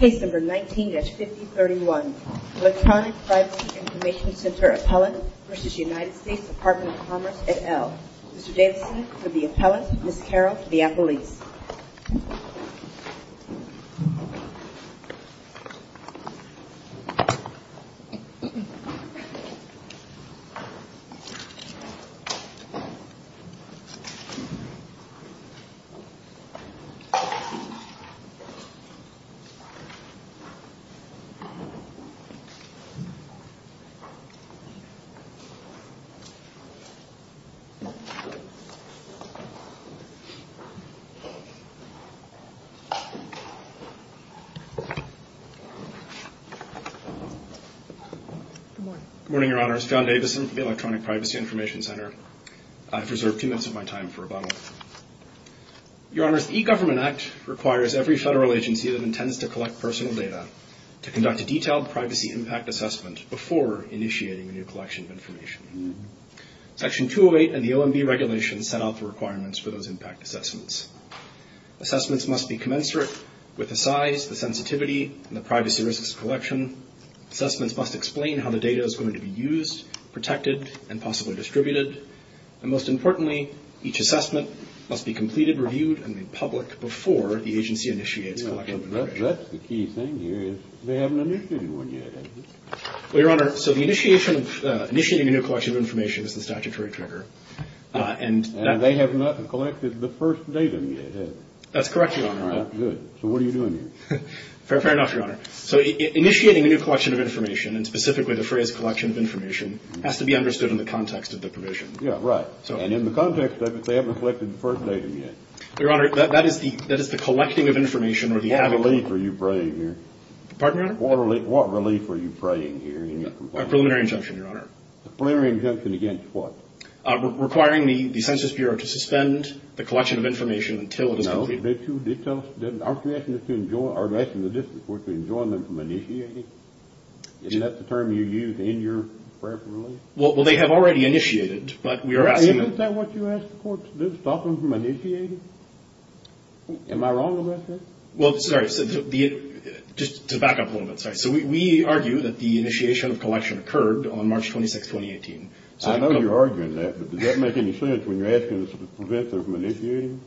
Number 19-5031, Electronic Privacy Information Center Appellant v. United States Department of Commerce et al. Mr. Davidson, for the appellant, Ms. Carol DiAppoliz. Good morning, your honors. John Davidson, Electronic Privacy Information Center. I've the requirements for those impact assessments. Assessments must be commensurate with the size, the sensitivity, and the privacy risks collection. Assessments must explain how the data is going to be used, protected, and possibly distributed. And most importantly, each assessment must be completed, reviewed, and made public before the agency initiates collection. That's the key thing here, is they haven't initiated one yet, have they? Well, your honor, so the initiation of, initiating a new collection of information is the statutory trigger. And they have not collected the first data yet, have they? That's correct, your honor. Good. So what are you doing here? Fair enough, your honor. So initiating a new collection of information, and specifically the phrase collection of information, has to be understood in the context of the provision. Yeah, right. And in the context of it, they haven't collected the first data yet. Your honor, that is the collecting of information, or the... What relief are you praying here? Pardon, your honor? What relief are you praying here? A preliminary injunction, your honor. A preliminary injunction against what? Requiring the Census Bureau to suspend the collection of information until it is completed. No, but you did tell us, aren't you asking the district court to enjoin them from initiating? Isn't that the term you use in your prayer for relief? Well, they have already initiated, but we are asking... Isn't that what you asked the court to do, to stop them from initiating? Am I wrong about that? Well, sorry, just to back up a little bit, sorry. So we argue that the initiation of collection occurred on March 26, 2018. I know you're arguing that, but does that make any sense when you're asking us to prevent them from initiating?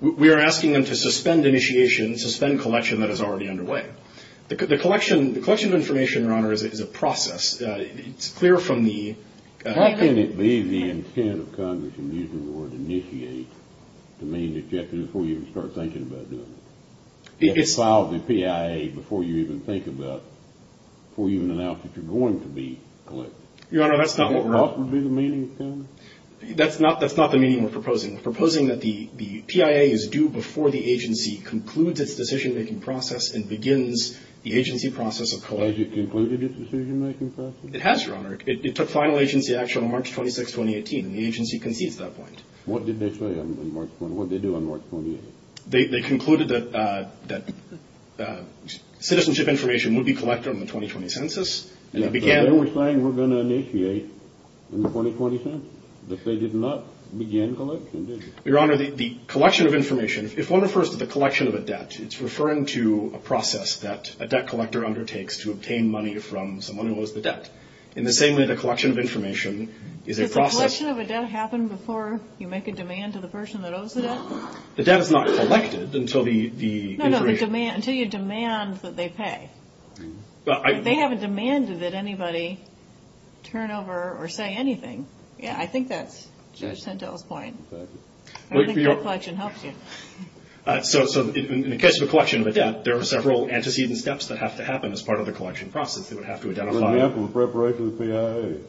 We are asking them to suspend initiation, suspend collection that is already underway. The collection of information, your honor, is a process. It's clear from the... How can it be the intent of Congress in using the word initiate to mean that you have to do it before you even start thinking about doing it? You have to file the PIA before you even think about, before you even announce that you're going to be collecting. Your honor, that's not what we're... Is that what would be the meaning of that? That's not the meaning we're proposing. We're proposing that the PIA is due before the agency concludes its decision-making process and begins the agency process of... Has it concluded its decision-making process? It has, your honor. It took final agency action on March 26, 2018, and the agency concedes that point. What did they say on March 28? What did they do on March 28? They concluded that citizenship information would be collected on the 2020 census. They were saying we're going to initiate in the 2020 census, but they did not begin collection, did they? Your honor, the collection of information, if one refers to the collection of a debt, it's referring to a process that a debt collector undertakes to obtain money from someone who owes the debt. In the same way, the collection of information is a process... Does the collection of a debt happen before you make a demand to the person that owes the debt? The debt is not collected until the... No, no, until you demand that they pay. They haven't demanded that anybody turn over or say anything. Yeah, I think that's Judge Sentel's point. I think the collection helps you. So in the case of a collection of a debt, there are several antecedent steps that have to happen as part of the collection process. They would have to identify... For example, the preparation of the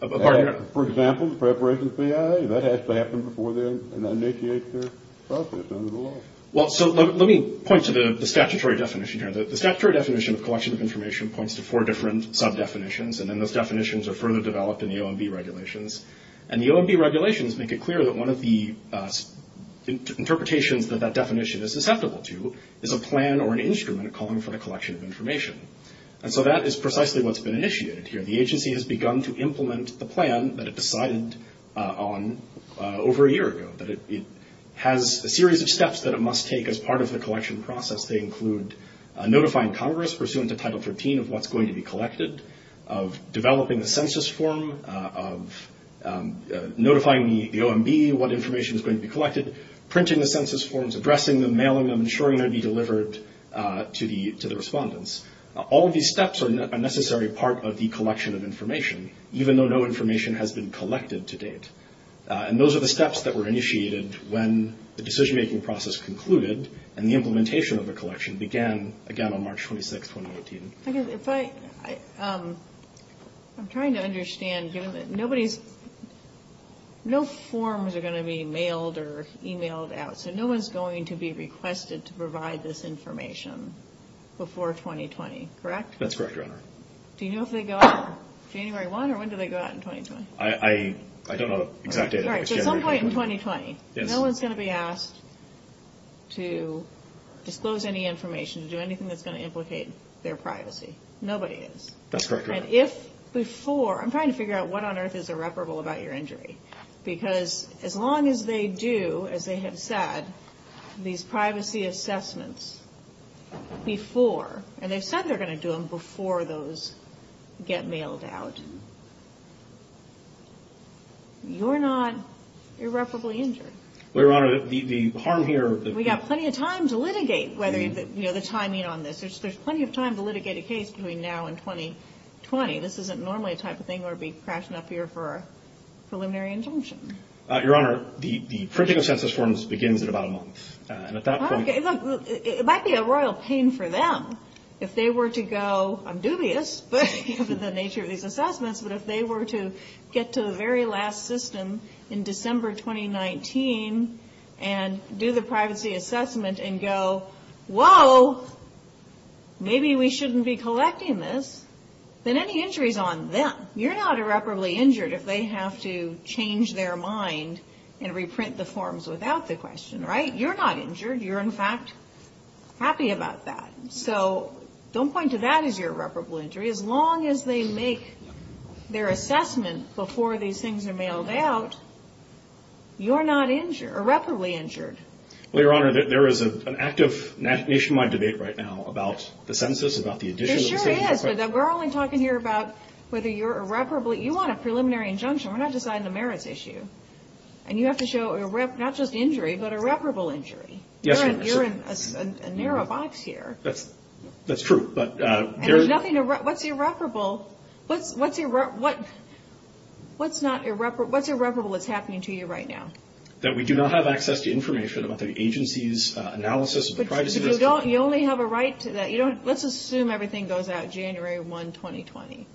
PIA. Pardon? For example, the preparation of the PIA, that has to happen before they initiate their process under the law. Well, so let me point to the statutory definition here. The statutory definition of collection of information points to four different sub-definitions, and then those definitions are further developed in the OMB regulations. And the OMB regulations make it clear that one of the interpretations that that definition is susceptible to is a plan or an instrument calling for the collection of information. And so that is precisely what's been initiated here. The agency has begun to implement the plan that it decided on over a year ago. It has a series of steps that it must take as part of the collection process. They include notifying Congress pursuant to Title 13 of what's going to be collected, of developing a census form, of notifying the OMB what information is going to be collected, printing the census forms, addressing them, mailing them, ensuring they're being delivered to the respondents. All of these steps are a necessary part of the collection of information, even though no information has been collected to date. And those are the steps that were initiated when the decision-making process concluded and the implementation of the collection began, again, on March 26, 2018. I'm trying to understand. No forms are going to be mailed or emailed out, so no one's going to be requested to provide this information before 2020, correct? That's correct, Your Honor. Do you know if they go out January 1, or when do they go out in 2020? I don't know the exact date. All right, so at some point in 2020, no one's going to be asked to disclose any information, to do anything that's going to implicate their privacy. Nobody is. That's correct, Your Honor. And if before—I'm trying to figure out what on earth is irreparable about your injury, because as long as they do, as they have said, these privacy assessments before, and they've said they're going to do them before those get mailed out, you're not irreparably injured. Well, Your Honor, the harm here— We've got plenty of time to litigate the timing on this. There's plenty of time to litigate a case between now and 2020. This isn't normally the type of thing where we'd be crashing up here for a preliminary injunction. Your Honor, the printing of census forms begins in about a month, and at that point— It might be a royal pain for them if they were to go, I'm dubious given the nature of these assessments, but if they were to get to the very last system in December 2019 and do the privacy assessment and go, Whoa, maybe we shouldn't be collecting this, then any injury is on them. You're not irreparably injured if they have to change their mind and reprint the forms without the question, right? You're not injured. You're, in fact, happy about that. So don't point to that as your irreparable injury. As long as they make their assessment before these things are mailed out, you're not irreparably injured. Well, Your Honor, there is an active nationwide debate right now about the census, about the addition of the census— There sure is, but we're only talking here about whether you're irreparably— You want a preliminary injunction. We're not deciding the merits issue. And you have to show not just injury, but irreparable injury. Yes, Your Honor. You're in a narrow box here. That's true, but— And there's nothing—what's irreparable? What's irreparable that's happening to you right now? That we do not have access to information about the agency's analysis of privacy. But you only have a right to that. Let's assume everything goes out January 1, 2020.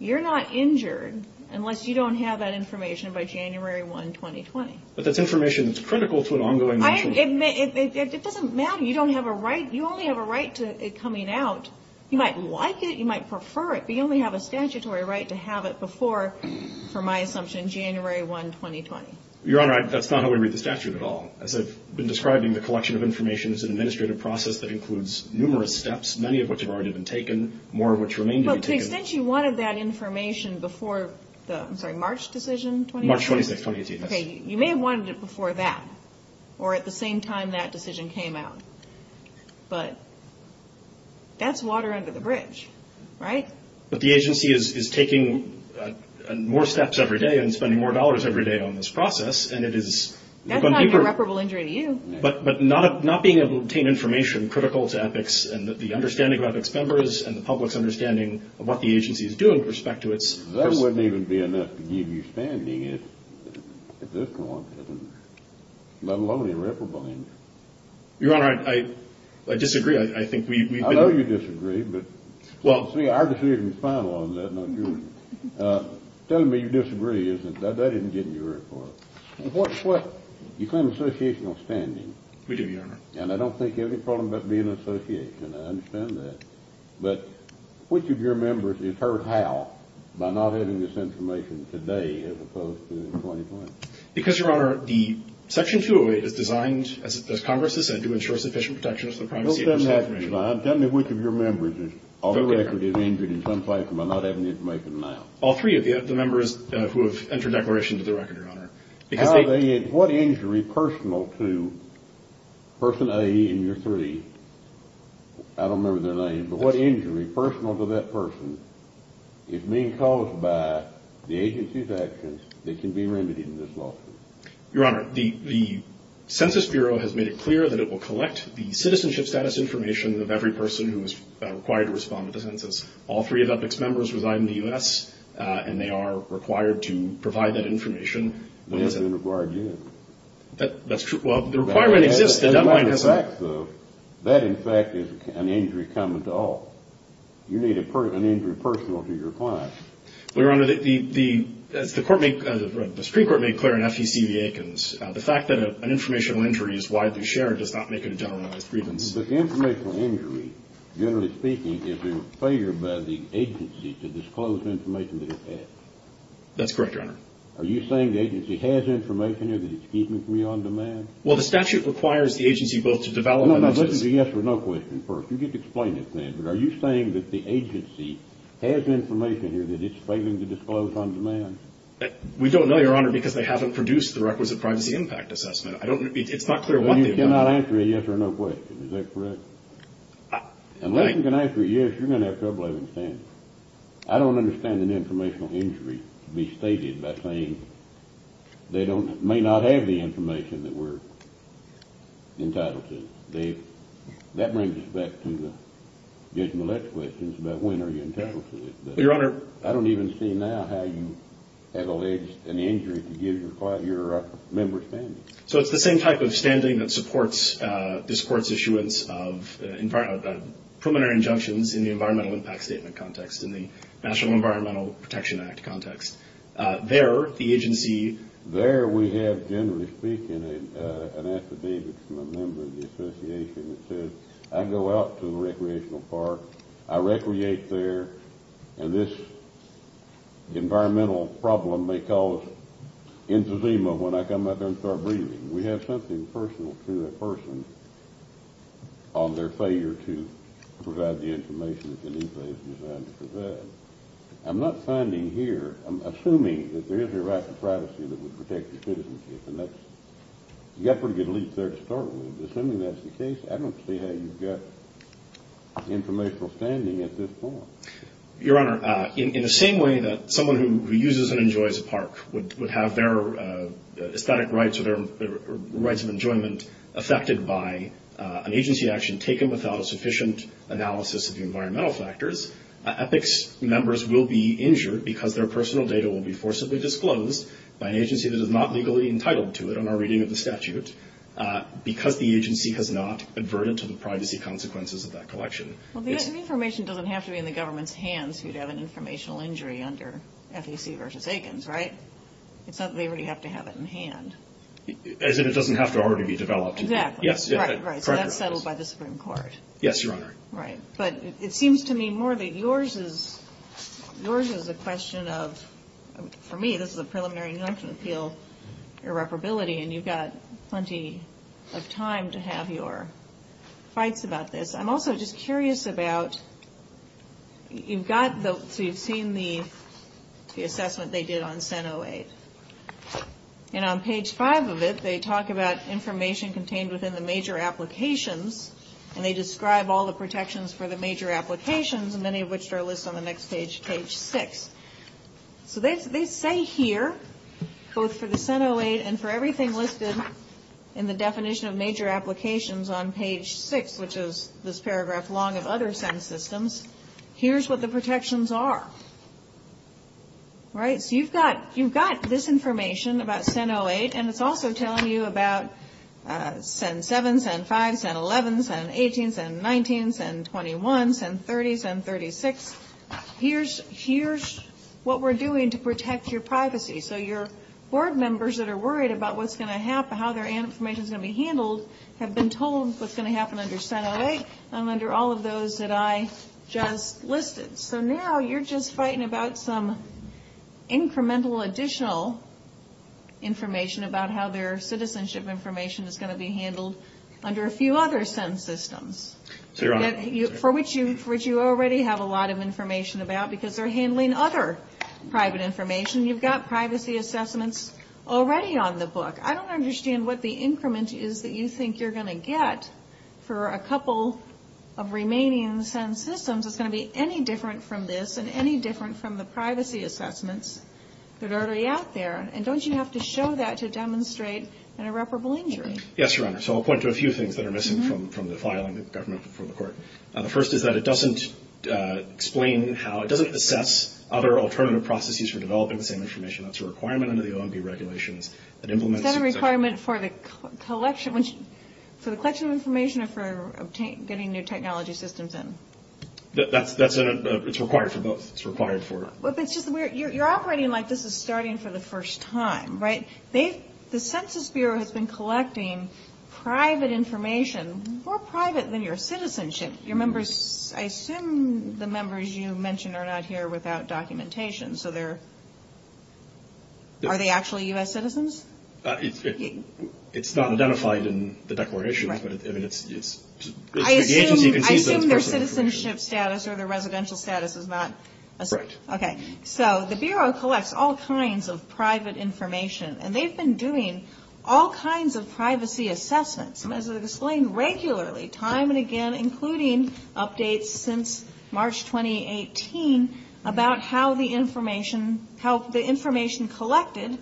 You're not injured unless you don't have that information by January 1, 2020. But that's information that's critical to an ongoing— It doesn't matter. You only have a right to it coming out. You might like it. You might prefer it. But you only have a statutory right to have it before, for my assumption, January 1, 2020. Your Honor, that's not how we read the statute at all. As I've been describing, the collection of information is an administrative process that includes numerous steps, many of which have already been taken, more of which remain to be taken. But to the extent you wanted that information before the—I'm sorry, March decision? March 26, 2018, yes. Okay, you may have wanted it before that or at the same time that decision came out. But that's water under the bridge, right? But the agency is taking more steps every day and spending more dollars every day on this process, and it is— That's not an irreparable injury to you. But not being able to obtain information critical to EPICS and the understanding of EPICS members and the public's understanding of what the agency is doing with respect to its— That wouldn't even be enough to give you standing at this point, let alone irreparable injury. Your Honor, I disagree. I think we've been— I know you disagree, but our decision is final on that, not yours. Telling me you disagree isn't—that didn't get in your report. What— You claim associational standing. We do, Your Honor. And I don't think you have any problem about being an association. I understand that. But which of your members is hurt how by not having this information today as opposed to in 2020? Because, Your Honor, the Section 208 is designed, as Congress has said, to ensure sufficient protection of the privacy of personal information. No, it doesn't have to be designed. Tell me which of your members is on the record is injured in some place by not having the information now. All three of the members who have entered declaration to the record, Your Honor. How are they—what injury personal to person A in your three—I don't remember their names, but what injury personal to that person is being caused by the agency's actions that can be remedied in this lawsuit? Your Honor, the Census Bureau has made it clear that it will collect the citizenship status information of every person who is required to respond to the census. All three of that mixed members reside in the U.S., and they are required to provide that information. They haven't been required yet. That's true—well, the requirement exists. The deadline hasn't— That, in fact, is an injury common to all. You need an injury personal to your client. Well, Your Honor, the Supreme Court made clear in FEC v. Aikens, the fact that an informational injury is widely shared does not make it a generalized grievance. But the informational injury, generally speaking, is a failure by the agency to disclose information that it has. That's correct, Your Honor. Are you saying the agency has information there that it's keeping from you on demand? Well, the statute requires the agency both to develop and to— No, no. Listen to the yes or no question first. You get to explain it then. But are you saying that the agency has information here that it's failing to disclose on demand? We don't know, Your Honor, because they haven't produced the requisite privacy impact assessment. I don't—it's not clear what they've done. Well, you cannot answer a yes or no question. Is that correct? Unless you can answer a yes, you're going to have trouble understanding. I don't understand an informational injury to be stated by saying they don't—may not have the information that we're entitled to. That brings us back to the additional questions about when are you entitled to it. Your Honor— I don't even see now how you have alleged an injury to give your member's standing. So it's the same type of standing that supports this Court's issuance of preliminary injunctions in the Environmental Impact Statement context, in the National Environmental Protection Act context. There, the agency— I have an affidavit from a member of the association that says, I go out to a recreational park, I recreate there, and this environmental problem may cause entezema when I come out there and start breathing. We have something personal to that person on their failure to provide the information that the new place is designed to provide. I'm not finding here—I'm assuming that there is a right to privacy that would protect the citizenship, and that's—you've got a pretty good leap there to start with. Assuming that's the case, I don't see how you've got informational standing at this point. Your Honor, in the same way that someone who uses and enjoys a park would have their aesthetic rights or their rights of enjoyment affected by an agency action taken without a sufficient analysis of the environmental factors, EPICS members will be injured because their personal data will be forcibly disclosed by an agency that is not legally entitled to it in our reading of the statute because the agency has not adverted to the privacy consequences of that collection. Well, the information doesn't have to be in the government's hands who would have an informational injury under FEC v. Aikens, right? It's not that they really have to have it in hand. As in it doesn't have to already be developed. Exactly. Yes. Right, right. So that's settled by the Supreme Court. Yes, Your Honor. Right. But it seems to me more that yours is a question of, for me, this is a preliminary injunction appeal irreparability, and you've got plenty of time to have your fights about this. I'm also just curious about, you've got the, so you've seen the assessment they did on Senate 08. And on page 5 of it, they talk about information contained within the major applications, and they describe all the protections for the major applications, many of which are listed on the next page, page 6. So they say here, both for the Senate 08 and for everything listed in the definition of major applications on page 6, which is this paragraph long of other Senate systems, here's what the protections are, right? So you've got this information about Senate 08, and it's also telling you about Senate 7, Senate 5, Senate 11, Senate 18, Senate 19, Senate 21, Senate 30, Senate 36. Here's what we're doing to protect your privacy. So your board members that are worried about what's going to happen, how their information is going to be handled, have been told what's going to happen under Senate 08 and under all of those that I just listed. So now you're just fighting about some incremental additional information about how their citizenship information is going to be handled under a few other Senate systems. For which you already have a lot of information about because they're handling other private information. You've got privacy assessments already on the book. I don't understand what the increment is that you think you're going to get for a couple of remaining Senate systems. It's going to be any different from this and any different from the privacy assessments that are already out there. And don't you have to show that to demonstrate an irreparable injury? Yes, Your Honor. So I'll point to a few things that are missing from the filing of the government before the court. The first is that it doesn't explain how, it doesn't assess other alternative processes for developing the same information. That's a requirement under the OMB regulations. Is that a requirement for the collection of information or for getting new technology systems in? It's required for both. You're operating like this is starting for the first time, right? The Census Bureau has been collecting private information, more private than your citizenship. I assume the members you mentioned are not here without documentation. So are they actually U.S. citizens? It's not identified in the declarations. I assume their citizenship status or their residential status is not assessed. Right. Okay. So the Bureau collects all kinds of private information, and they've been doing all kinds of privacy assessments. And as I've explained regularly time and again, including updates since March 2018, about how the information collected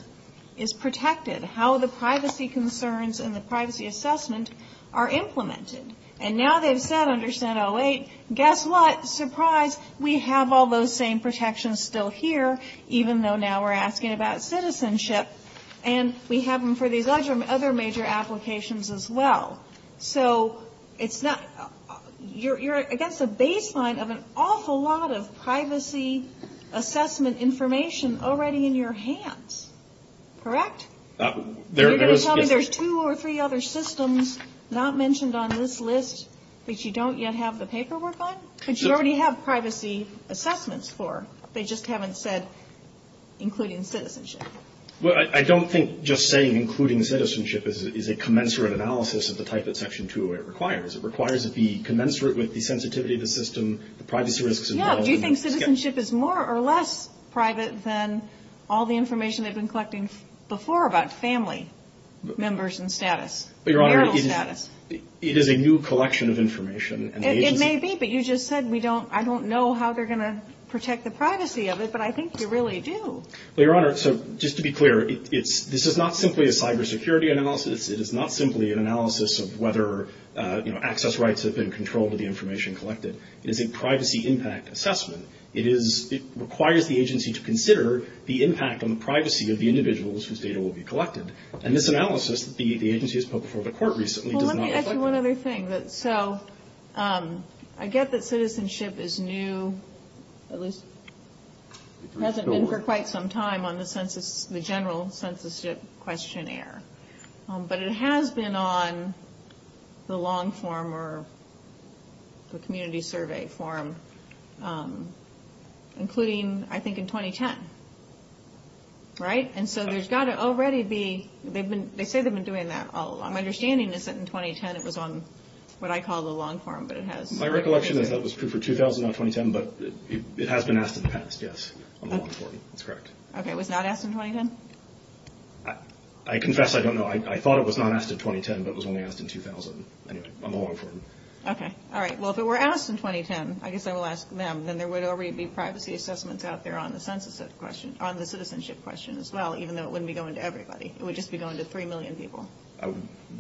is protected, how the privacy concerns and the privacy assessment are implemented. And now they've said under Senate 08, guess what, surprise, we have all those same protections still here, even though now we're asking about citizenship. And we have them for these other major applications as well. So it's not, you're against a baseline of an awful lot of privacy assessment information already in your hands. Correct? You're going to tell me there's two or three other systems not mentioned on this list that you don't yet have the paperwork on? But you already have privacy assessments for. They just haven't said including citizenship. Well, I don't think just saying including citizenship is a commensurate analysis of the type that Section 208 requires. It requires it be commensurate with the sensitivity of the system, the privacy risks involved. Do you think citizenship is more or less private than all the information they've been collecting before about family members and status? Your Honor, it is a new collection of information. It may be, but you just said I don't know how they're going to protect the privacy of it, but I think you really do. Well, Your Honor, so just to be clear, this is not simply a cybersecurity analysis. It is not simply an analysis of whether access rights have been controlled or the information collected. It is a privacy impact assessment. It requires the agency to consider the impact on the privacy of the individuals whose data will be collected, and this analysis that the agency has put before the Court recently does not reflect that. Well, let me ask you one other thing. So I get that citizenship is new, at least hasn't been for quite some time on the general censorship questionnaire, but it has been on the long form or the community survey form, including, I think, in 2010, right? And so there's got to already be – they say they've been doing that all along. My understanding is that in 2010 it was on what I call the long form, but it has – My recollection is that it was approved for 2000, not 2010, but it has been asked in the past, yes, on the long form. That's correct. Okay, it was not asked in 2010? I confess I don't know. I thought it was not asked in 2010, but it was only asked in 2000. Anyway, on the long form. Okay. All right. Well, if it were asked in 2010, I guess I will ask them, then there would already be privacy assessments out there on the censorship question as well, even though it wouldn't be going to everybody. It would just be going to 3 million people.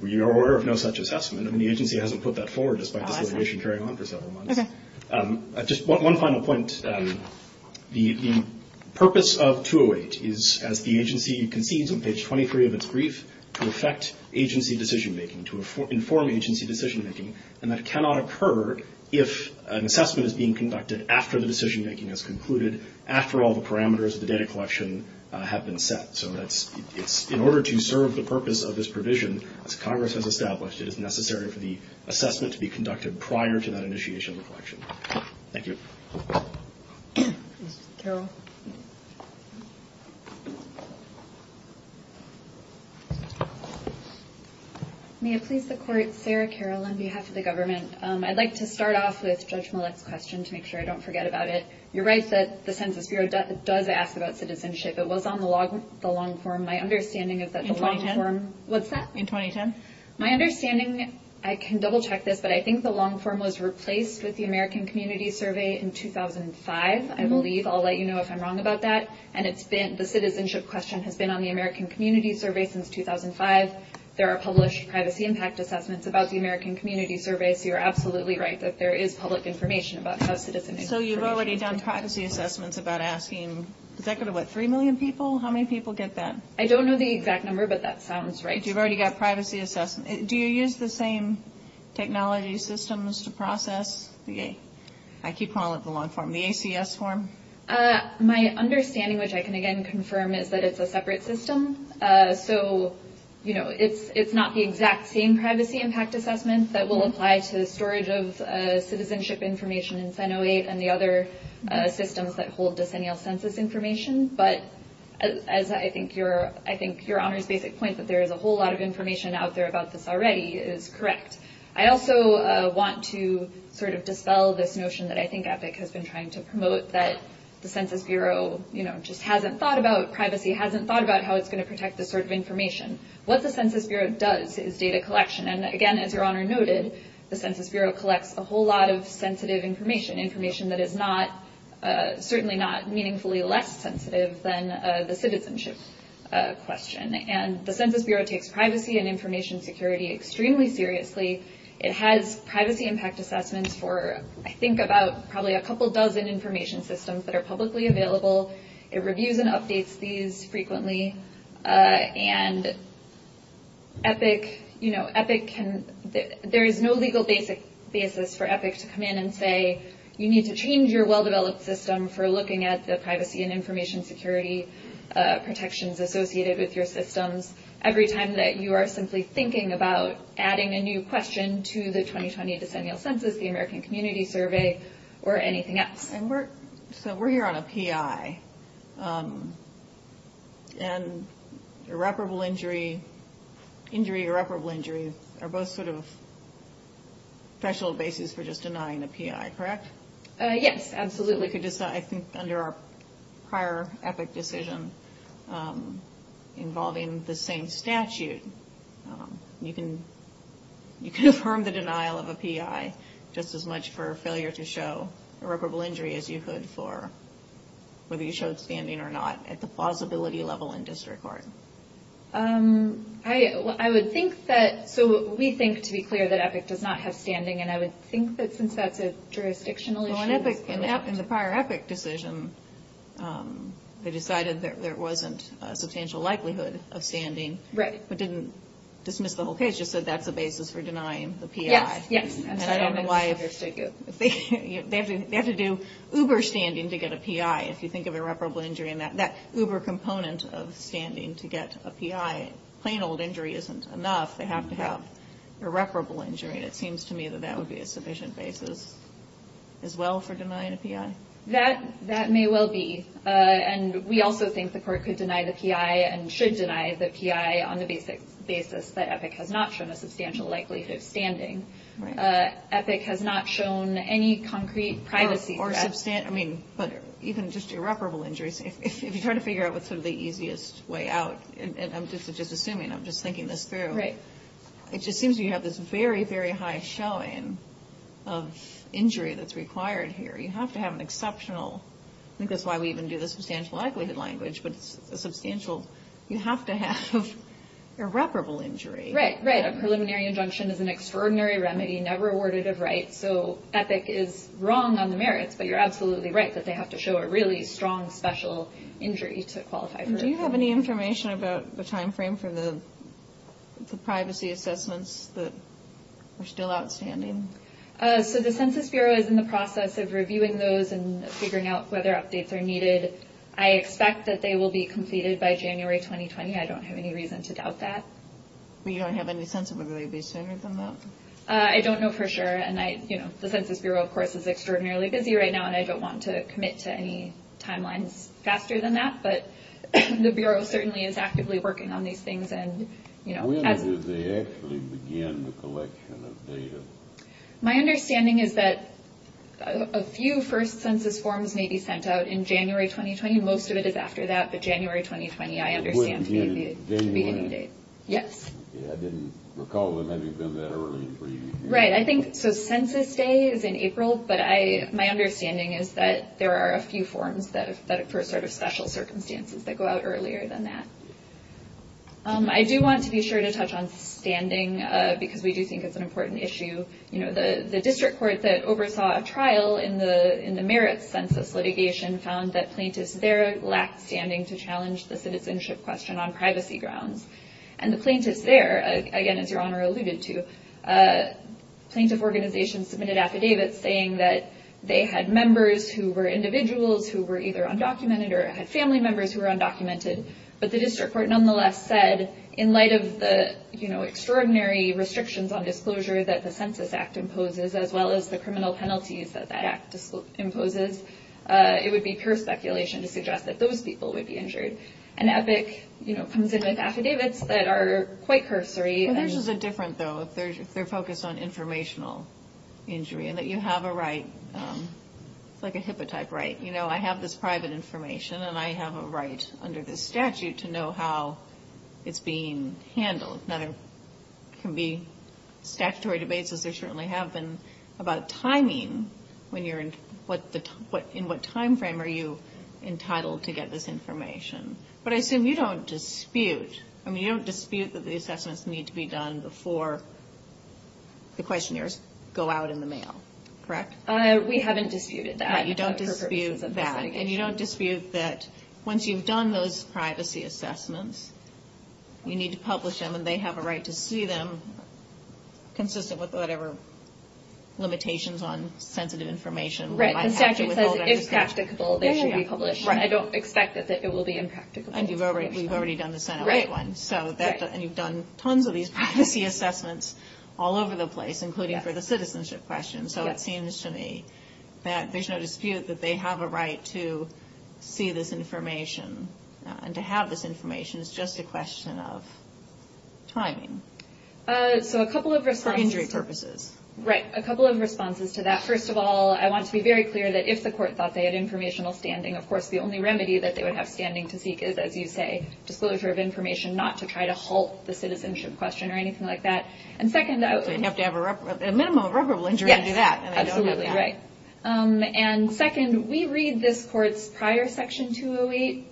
We are aware of no such assessment. I mean, the agency hasn't put that forward despite this litigation carrying on for several months. Okay. Just one final point. The purpose of 208 is, as the agency concedes on page 23 of its brief, to affect agency decision-making, to inform agency decision-making, and that cannot occur if an assessment is being conducted after the decision-making has concluded, after all the parameters of the data collection have been set. So in order to serve the purpose of this provision, as Congress has established, it is necessary for the assessment to be conducted prior to that initiation of the collection. Thank you. Ms. Carroll. May it please the Court. Sarah Carroll on behalf of the government. I'd like to start off with Judge Millett's question to make sure I don't forget about it. You're right that the Census Bureau does ask about citizenship. It was on the long form. My understanding is that the long form. In 2010? What's that? In 2010? My understanding, I can double-check this, but I think the long form was replaced with the American Community Survey in 2005, I believe. I'll let you know if I'm wrong about that. And the citizenship question has been on the American Community Survey since 2005. There are published privacy impact assessments about the American Community Survey, so you're absolutely right that there is public information about how citizenship is used. So you've already done privacy assessments about asking, does that go to, what, 3 million people? How many people get that? I don't know the exact number, but that sounds right. You've already got privacy assessments. Do you use the same technology systems to process the, I keep calling it the long form, the ACS form? My understanding, which I can again confirm, is that it's a separate system. So, you know, it's not the exact same privacy impact assessment that will apply to the storage of citizenship information in Senate 08 and the other systems that hold decennial census information. But as I think your Honor's basic point that there is a whole lot of information out there about this already is correct. I also want to sort of dispel this notion that I think EPIC has been trying to promote, that the Census Bureau, you know, just hasn't thought about, privacy hasn't thought about how it's going to protect this sort of information. What the Census Bureau does is data collection. And again, as your Honor noted, the Census Bureau collects a whole lot of sensitive information, information that is not, certainly not meaningfully less sensitive than the citizenship question. And the Census Bureau takes privacy and information security extremely seriously. It has privacy impact assessments for, I think, about probably a couple dozen information systems that are publicly available. It reviews and updates these frequently. And EPIC, you know, EPIC can, there is no legal basis for EPIC to come in and say you need to change your well-developed system for looking at the privacy and information security protections associated with your systems. Every time that you are simply thinking about adding a new question to the 2020 decennial census, the American Community Survey, or anything else. And we're, so we're here on a PI. And irreparable injury, injury irreparable injury, are both sort of special basis for just denying a PI, correct? Yes, absolutely. We could just, I think, under our prior EPIC decision, involving the same statute, you can affirm the denial of a PI just as much for failure to show irreparable injury as you could for, whether you showed standing or not, at the plausibility level in district court. I would think that, so we think, to be clear, that EPIC does not have standing. And I would think that since that's a jurisdictional issue. Well, in EPIC, in the prior EPIC decision, they decided there wasn't a substantial likelihood of standing. Right. But didn't dismiss the whole case, just said that's a basis for denying the PI. Yes, yes. And I don't know why, they have to do uber standing to get a PI. If you think of irreparable injury, that uber component of standing to get a PI, plain old injury isn't enough. They have to have irreparable injury. And it seems to me that that would be a sufficient basis as well for denying a PI. That may well be. And we also think the court could deny the PI and should deny the PI on the basis that EPIC has not shown a substantial likelihood of standing. Right. EPIC has not shown any concrete privacy threat. Or, I mean, but even just irreparable injuries, if you're trying to figure out what's sort of the easiest way out, and I'm just assuming, I'm just thinking this through. Right. It just seems you have this very, very high showing of injury that's required here. You have to have an exceptional, I think that's why we even do the substantial likelihood language, but it's a substantial, you have to have irreparable injury. Right, right. A preliminary injunction is an extraordinary remedy never awarded of right, so EPIC is wrong on the merits, but you're absolutely right that they have to show a really strong, special injury to qualify for a PI. Do you have any information about the timeframe for the privacy assessments that are still outstanding? So the Census Bureau is in the process of reviewing those and figuring out whether updates are needed. I expect that they will be completed by January 2020. I don't have any reason to doubt that. Well, you don't have any sense of whether they'd be sooner than that? I don't know for sure, and I, you know, the Census Bureau, of course, is extraordinarily busy right now, and I don't want to commit to any timelines faster than that, but the Bureau certainly is actively working on these things. When do they actually begin the collection of data? My understanding is that a few first census forms may be sent out in January 2020. Most of it is after that, but January 2020 I understand to be the beginning date. Yes. I didn't recall them having been that early. Right, I think, so Census Day is in April, but my understanding is that there are a few forms that, for sort of special circumstances, that go out earlier than that. I do want to be sure to touch on standing because we do think it's an important issue. You know, the district court that oversaw a trial in the merits census litigation found that plaintiffs there lacked standing to challenge the citizenship question on privacy grounds, and the plaintiffs there, again, as Your Honor alluded to, plaintiff organizations submitted affidavits saying that they had members who were individuals who were either undocumented or had family members who were undocumented, but the district court nonetheless said in light of the, you know, extraordinary restrictions on disclosure that the Census Act imposes as well as the criminal penalties that that act imposes, it would be pure speculation to suggest that those people would be injured. And EPIC, you know, comes in with affidavits that are quite cursory. Yours is different, though, if they're focused on informational injury, and that you have a right, like a hippotype right. You know, I have this private information, and I have a right under this statute to know how it's being handled. Now, there can be statutory debates, as there certainly have been, about timing, when you're in what time frame are you entitled to get this information. But I assume you don't dispute, I mean, you don't dispute that the assessments need to be done before the questionnaires go out in the mail, correct? We haven't disputed that. You don't dispute that. And you don't dispute that once you've done those privacy assessments, you need to publish them, and they have a right to see them consistent with whatever limitations on sensitive information. Right, the statute says if practicable, they should be published. I don't expect that it will be impractical. And you've already done the Senate White One, and you've done tons of these privacy assessments all over the place, including for the citizenship question. So it seems to me that there's no dispute that they have a right to see this information, and to have this information is just a question of timing for injury purposes. Right, a couple of responses to that. First of all, I want to be very clear that if the court thought they had informational standing, of course, the only remedy that they would have standing to seek is, as you say, disclosure of information, not to try to halt the citizenship question or anything like that. So you'd have to have a minimum of reparable injury to do that. Yes, absolutely right. And second, we read this court's prior Section 208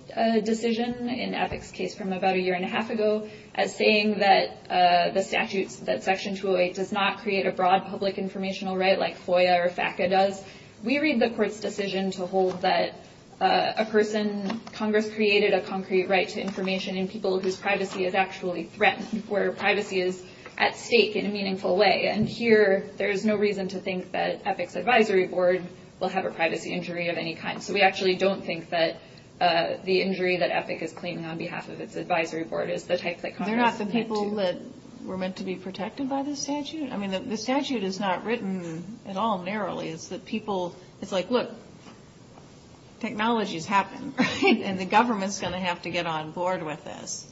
decision in Epic's case from about a year and a half ago as saying that the statute, that Section 208 does not create a broad public informational right like FOIA or FACA does. We read the court's decision to hold that a person, Congress created a concrete right to information in people whose privacy is actually threatened, where privacy is at stake in a meaningful way. And here, there's no reason to think that Epic's advisory board will have a privacy injury of any kind. So we actually don't think that the injury that Epic is claiming on behalf of its advisory board is the type that Congress intended to. I mean, the statute is not written at all narrowly. It's that people, it's like, look, technology's happening, right? And the government's going to have to get on board with this.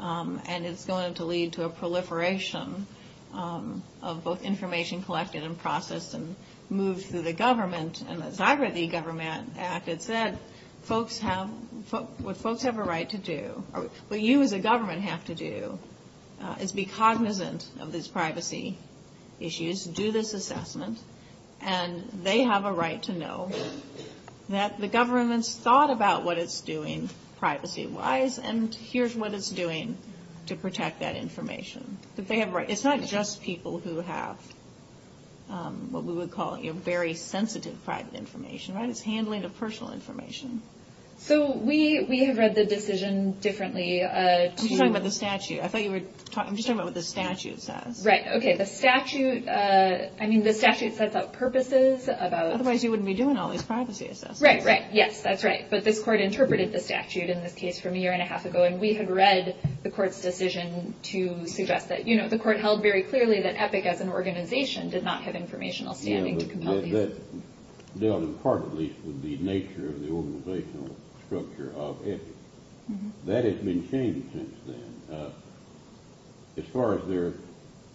And it's going to lead to a proliferation of both information collected and processed and moved through the government. And as I read the government act, it said folks have, what folks have a right to do, what you as a government have to do is be cognizant of these privacy issues, do this assessment, and they have a right to know that the government's thought about what it's doing privacy-wise, and here's what it's doing to protect that information. It's not just people who have what we would call very sensitive private information, right? It's handling of personal information. So we have read the decision differently. I'm just talking about the statute. I thought you were talking, I'm just talking about what the statute says. Right. Okay. The statute, I mean, the statute sets out purposes about. Otherwise you wouldn't be doing all these privacy assessments. Right, right. Yes, that's right. But this court interpreted the statute in this case from a year and a half ago, and we had read the court's decision to suggest that, you know, the court held very clearly that Epic as an organization did not have informational standing to compel these. That dealt in part, at least, with the nature of the organizational structure of Epic. That has been changed since then. As far as their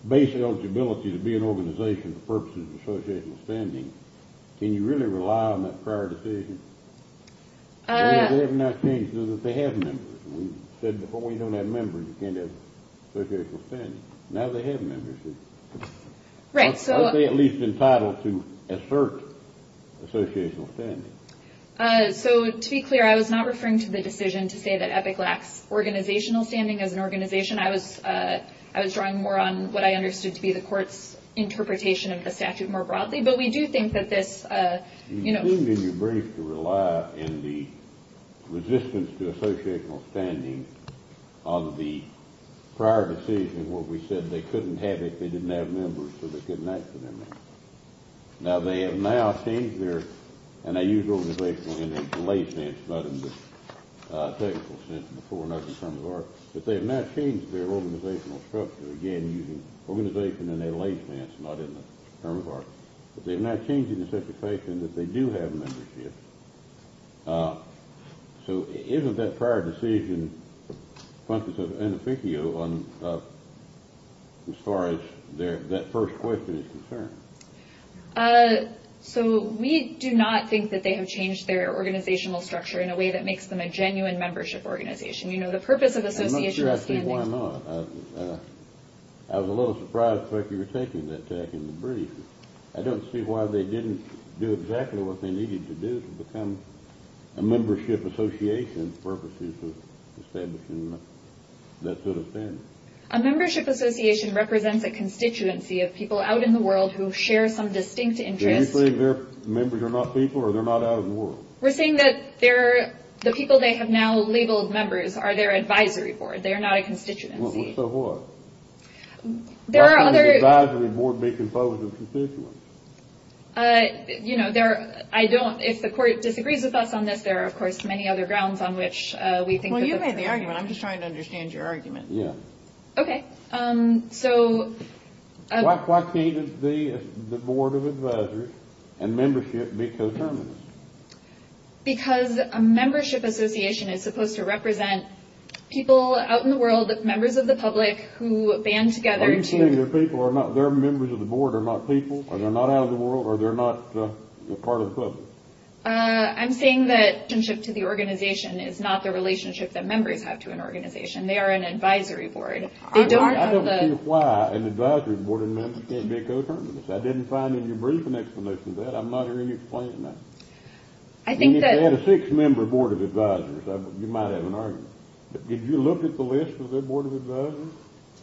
basic eligibility to be an organization for purposes of associational standing, can you really rely on that prior decision? They have now changed to that they have members. We said before you don't have members, you can't have associational standing. Now they have members. Right. Are they at least entitled to assert associational standing? So, to be clear, I was not referring to the decision to say that Epic lacks organizational standing as an organization. I was drawing more on what I understood to be the court's interpretation of the statute more broadly. But we do think that this, you know ---- You seemed in your brief to rely in the resistance to associational standing of the prior decision where we said they couldn't have it if they didn't have members, so they couldn't ask for their members. Now they have now changed their ---- And I use organizational in a delayed sense, not in the technical sense, before and after the term of art. But they have now changed their organizational structure, again, using organization in a delayed sense, not in the term of art. But they have now changed it in such a fashion that they do have membership. So isn't that prior decision conscious of inefficio as far as that first question is concerned? So we do not think that they have changed their organizational structure in a way that makes them a genuine membership organization. You know, the purpose of associational standing ---- I'm not sure I see why not. I was a little surprised, but you were taking that tack in the brief. I don't see why they didn't do exactly what they needed to do to become a membership association for purposes of establishing that sort of standing. A membership association represents a constituency of people out in the world who share some distinct interests. Are you saying their members are not people or they're not out in the world? We're saying that the people they have now labeled members are their advisory board. They are not a constituency. So what? Why can't the advisory board be composed of constituents? You know, I don't ---- if the court disagrees with us on this, there are, of course, many other grounds on which we think ---- Well, you made the argument. I'm just trying to understand your argument. Yeah. Okay. So ---- Why can't the board of advisors and membership be coterminous? Because a membership association is supposed to represent people out in the world, members of the public who band together to ---- Are you saying their members of the board are not people or they're not out in the world or they're not part of the public? I'm saying that the relationship to the organization is not the relationship that members have to an organization. They are an advisory board. I don't see why an advisory board and membership can't be coterminous. I didn't find any brief explanation to that. I'm not hearing you explain that. I think that ---- If they had a six-member board of advisors, you might have an argument. Did you look at the list of their board of advisors?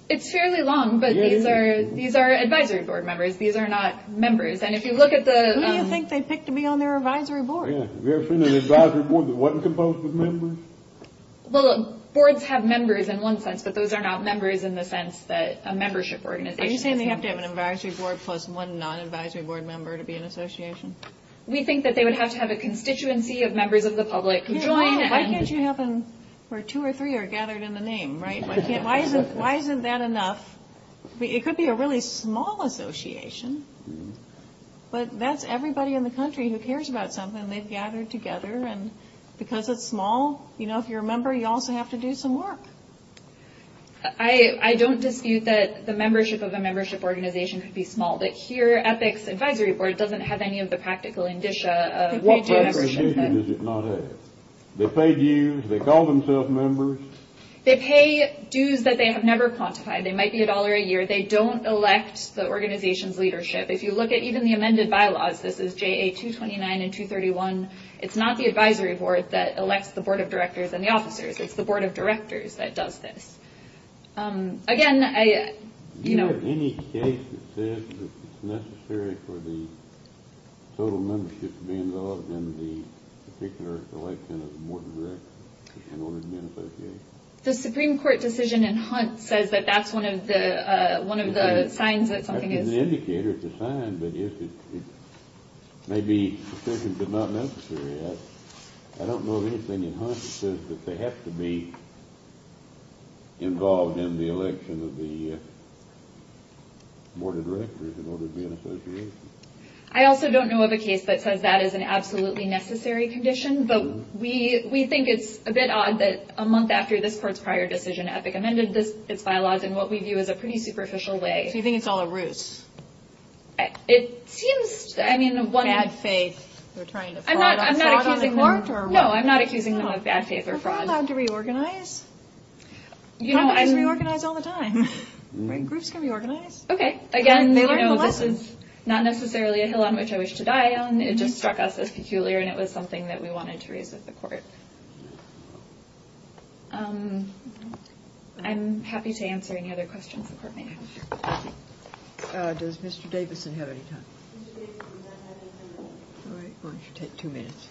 It's fairly long, but these are advisory board members. These are not members. And if you look at the ---- Who do you think they picked to be on their advisory board? Yeah. Have you ever seen an advisory board that wasn't composed of members? Well, look, boards have members in one sense, but those are not members in the sense that a membership organization ---- Are you saying they have to have an advisory board plus one non-advisory board member to be an association? We think that they would have to have a constituency of members of the public who join and ---- Why can't you have them where two or three are gathered in the name, right? Why isn't that enough? It could be a really small association, but that's everybody in the country who cares about something. They've gathered together, and because it's small, you know, if you're a member, you also have to do some work. I don't dispute that the membership of a membership organization could be small, but here EPIC's advisory board doesn't have any of the practical indicia of ---- What representation does it not have? They pay dues. They call themselves members. They pay dues that they have never quantified. They might be a dollar a year. They don't elect the organization's leadership. If you look at even the amended bylaws, this is JA 229 and 231, it's not the advisory board that elects the board of directors and the officers. It's the board of directors that does this. Again, you know ---- Is there any case that says that it's necessary for the total membership to be involved in the particular election of the board of directors in order to be an association? The Supreme Court decision in Hunt says that that's one of the signs that something is ---- It's an indicator. It's a sign, but it may be sufficient but not necessary. I don't know of anything in Hunt that says that they have to be involved in the election of the board of directors in order to be an association. I also don't know of a case that says that is an absolutely necessary condition, but we think it's a bit odd that a month after this court's prior decision, EPIC amended its bylaws in what we view as a pretty superficial way. So you think it's all a ruse? It seems ---- Bad faith. You're trying to fraud on the court? No, I'm not accusing them of bad faith or fraud. Are we allowed to reorganize? Congress can reorganize all the time. Groups can reorganize. Okay. Again, this is not necessarily a hill on which I wish to die on. It just struck us as peculiar, and it was something that we wanted to raise with the court. I'm happy to answer any other questions the court may have. Does Mr. Davison have any time? All right. We should take two minutes.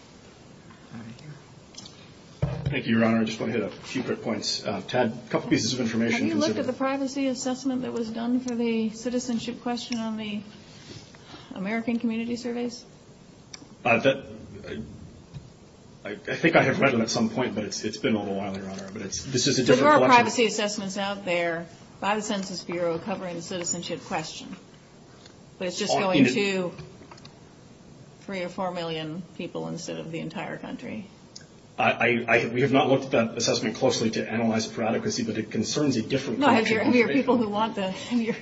Thank you, Your Honor. I just want to hit a few quick points. Tad, a couple pieces of information. Have you looked at the privacy assessment that was done for the citizenship question on the American Community Surveys? I think I have read them at some point, but it's been a little while, Your Honor. But this is a different collection. There are privacy assessments out there by the Census Bureau covering the citizenship question. But it's just going to 3 or 4 million people instead of the entire country. We have not looked at that assessment closely to analyze for adequacy, but it concerns a different collection of information.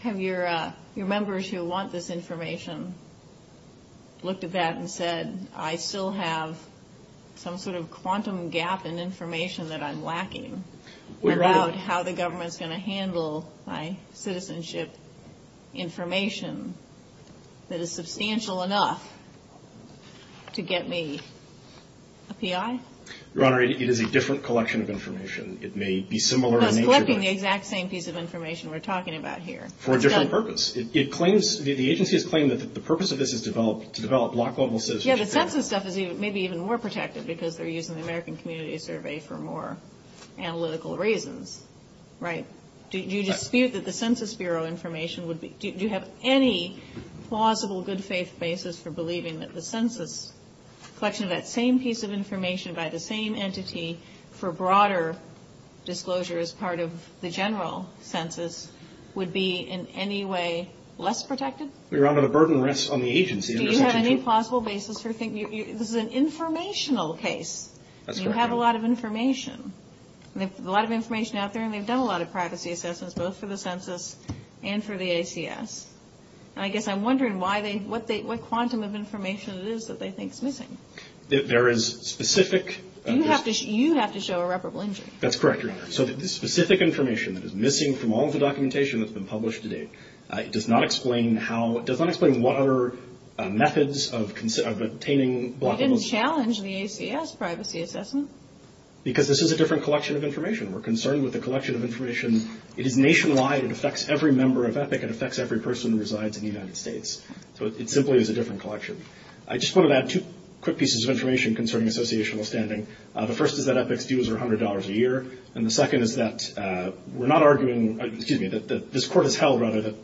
Have your members who want this information looked at that and said, I still have some sort of quantum gap in information that I'm lacking without how the government is going to handle my citizenship information that is substantial enough to get me a PI? Your Honor, it is a different collection of information. It may be similar in nature. It's collecting the exact same piece of information we're talking about here. For a different purpose. The agency has claimed that the purpose of this is to develop block-level citizenship. Yeah, the Census stuff is maybe even more protective because they're using the American Community Survey for more analytical reasons, right? Do you dispute that the Census Bureau information would be – do you have any plausible good-faith basis for believing that the census collection of that same piece of information by the same entity for broader disclosure as part of the general census would be in any way less protected? Your Honor, the burden rests on the agency. Do you have any plausible basis for thinking – this is an informational case. That's correct, Your Honor. You have a lot of information. There's a lot of information out there, and they've done a lot of privacy assessments, both for the census and for the ACS. I guess I'm wondering what quantum of information it is that they think is missing. There is specific – You have to show irreparable injury. That's correct, Your Honor. So the specific information that is missing from all the documentation that's been published to date does not explain how – does not explain what other methods of obtaining – You didn't challenge the ACS privacy assessment. Because this is a different collection of information. We're concerned with the collection of information. It is nationwide. It affects every member of EPIC. It affects every person who resides in the United States. So it simply is a different collection. I just wanted to add two quick pieces of information concerning associational standing. The first is that EPIC's dues are $100 a year, and the second is that we're not arguing – excuse me – that this court has held, rather, that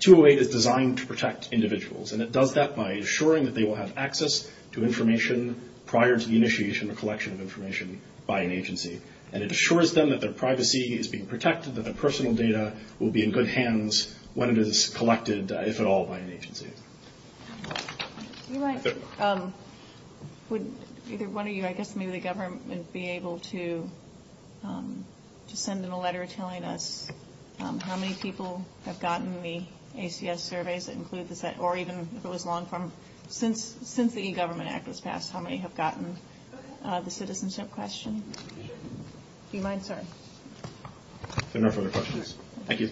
208 is designed to protect individuals. And it does that by assuring that they will have access to information prior to the initiation or collection of information by an agency. And it assures them that their privacy is being protected, that their personal data will be in good hands when it is collected, if at all, by an agency. Do you mind – would either one of you, I guess maybe the government, be able to send in a letter telling us how many people have gotten the ACS surveys that include the – or even if it was long-form, since the e-Government Act was passed, how many have gotten the citizenship question? Do you mind, sir? If there are no further questions. Thank you.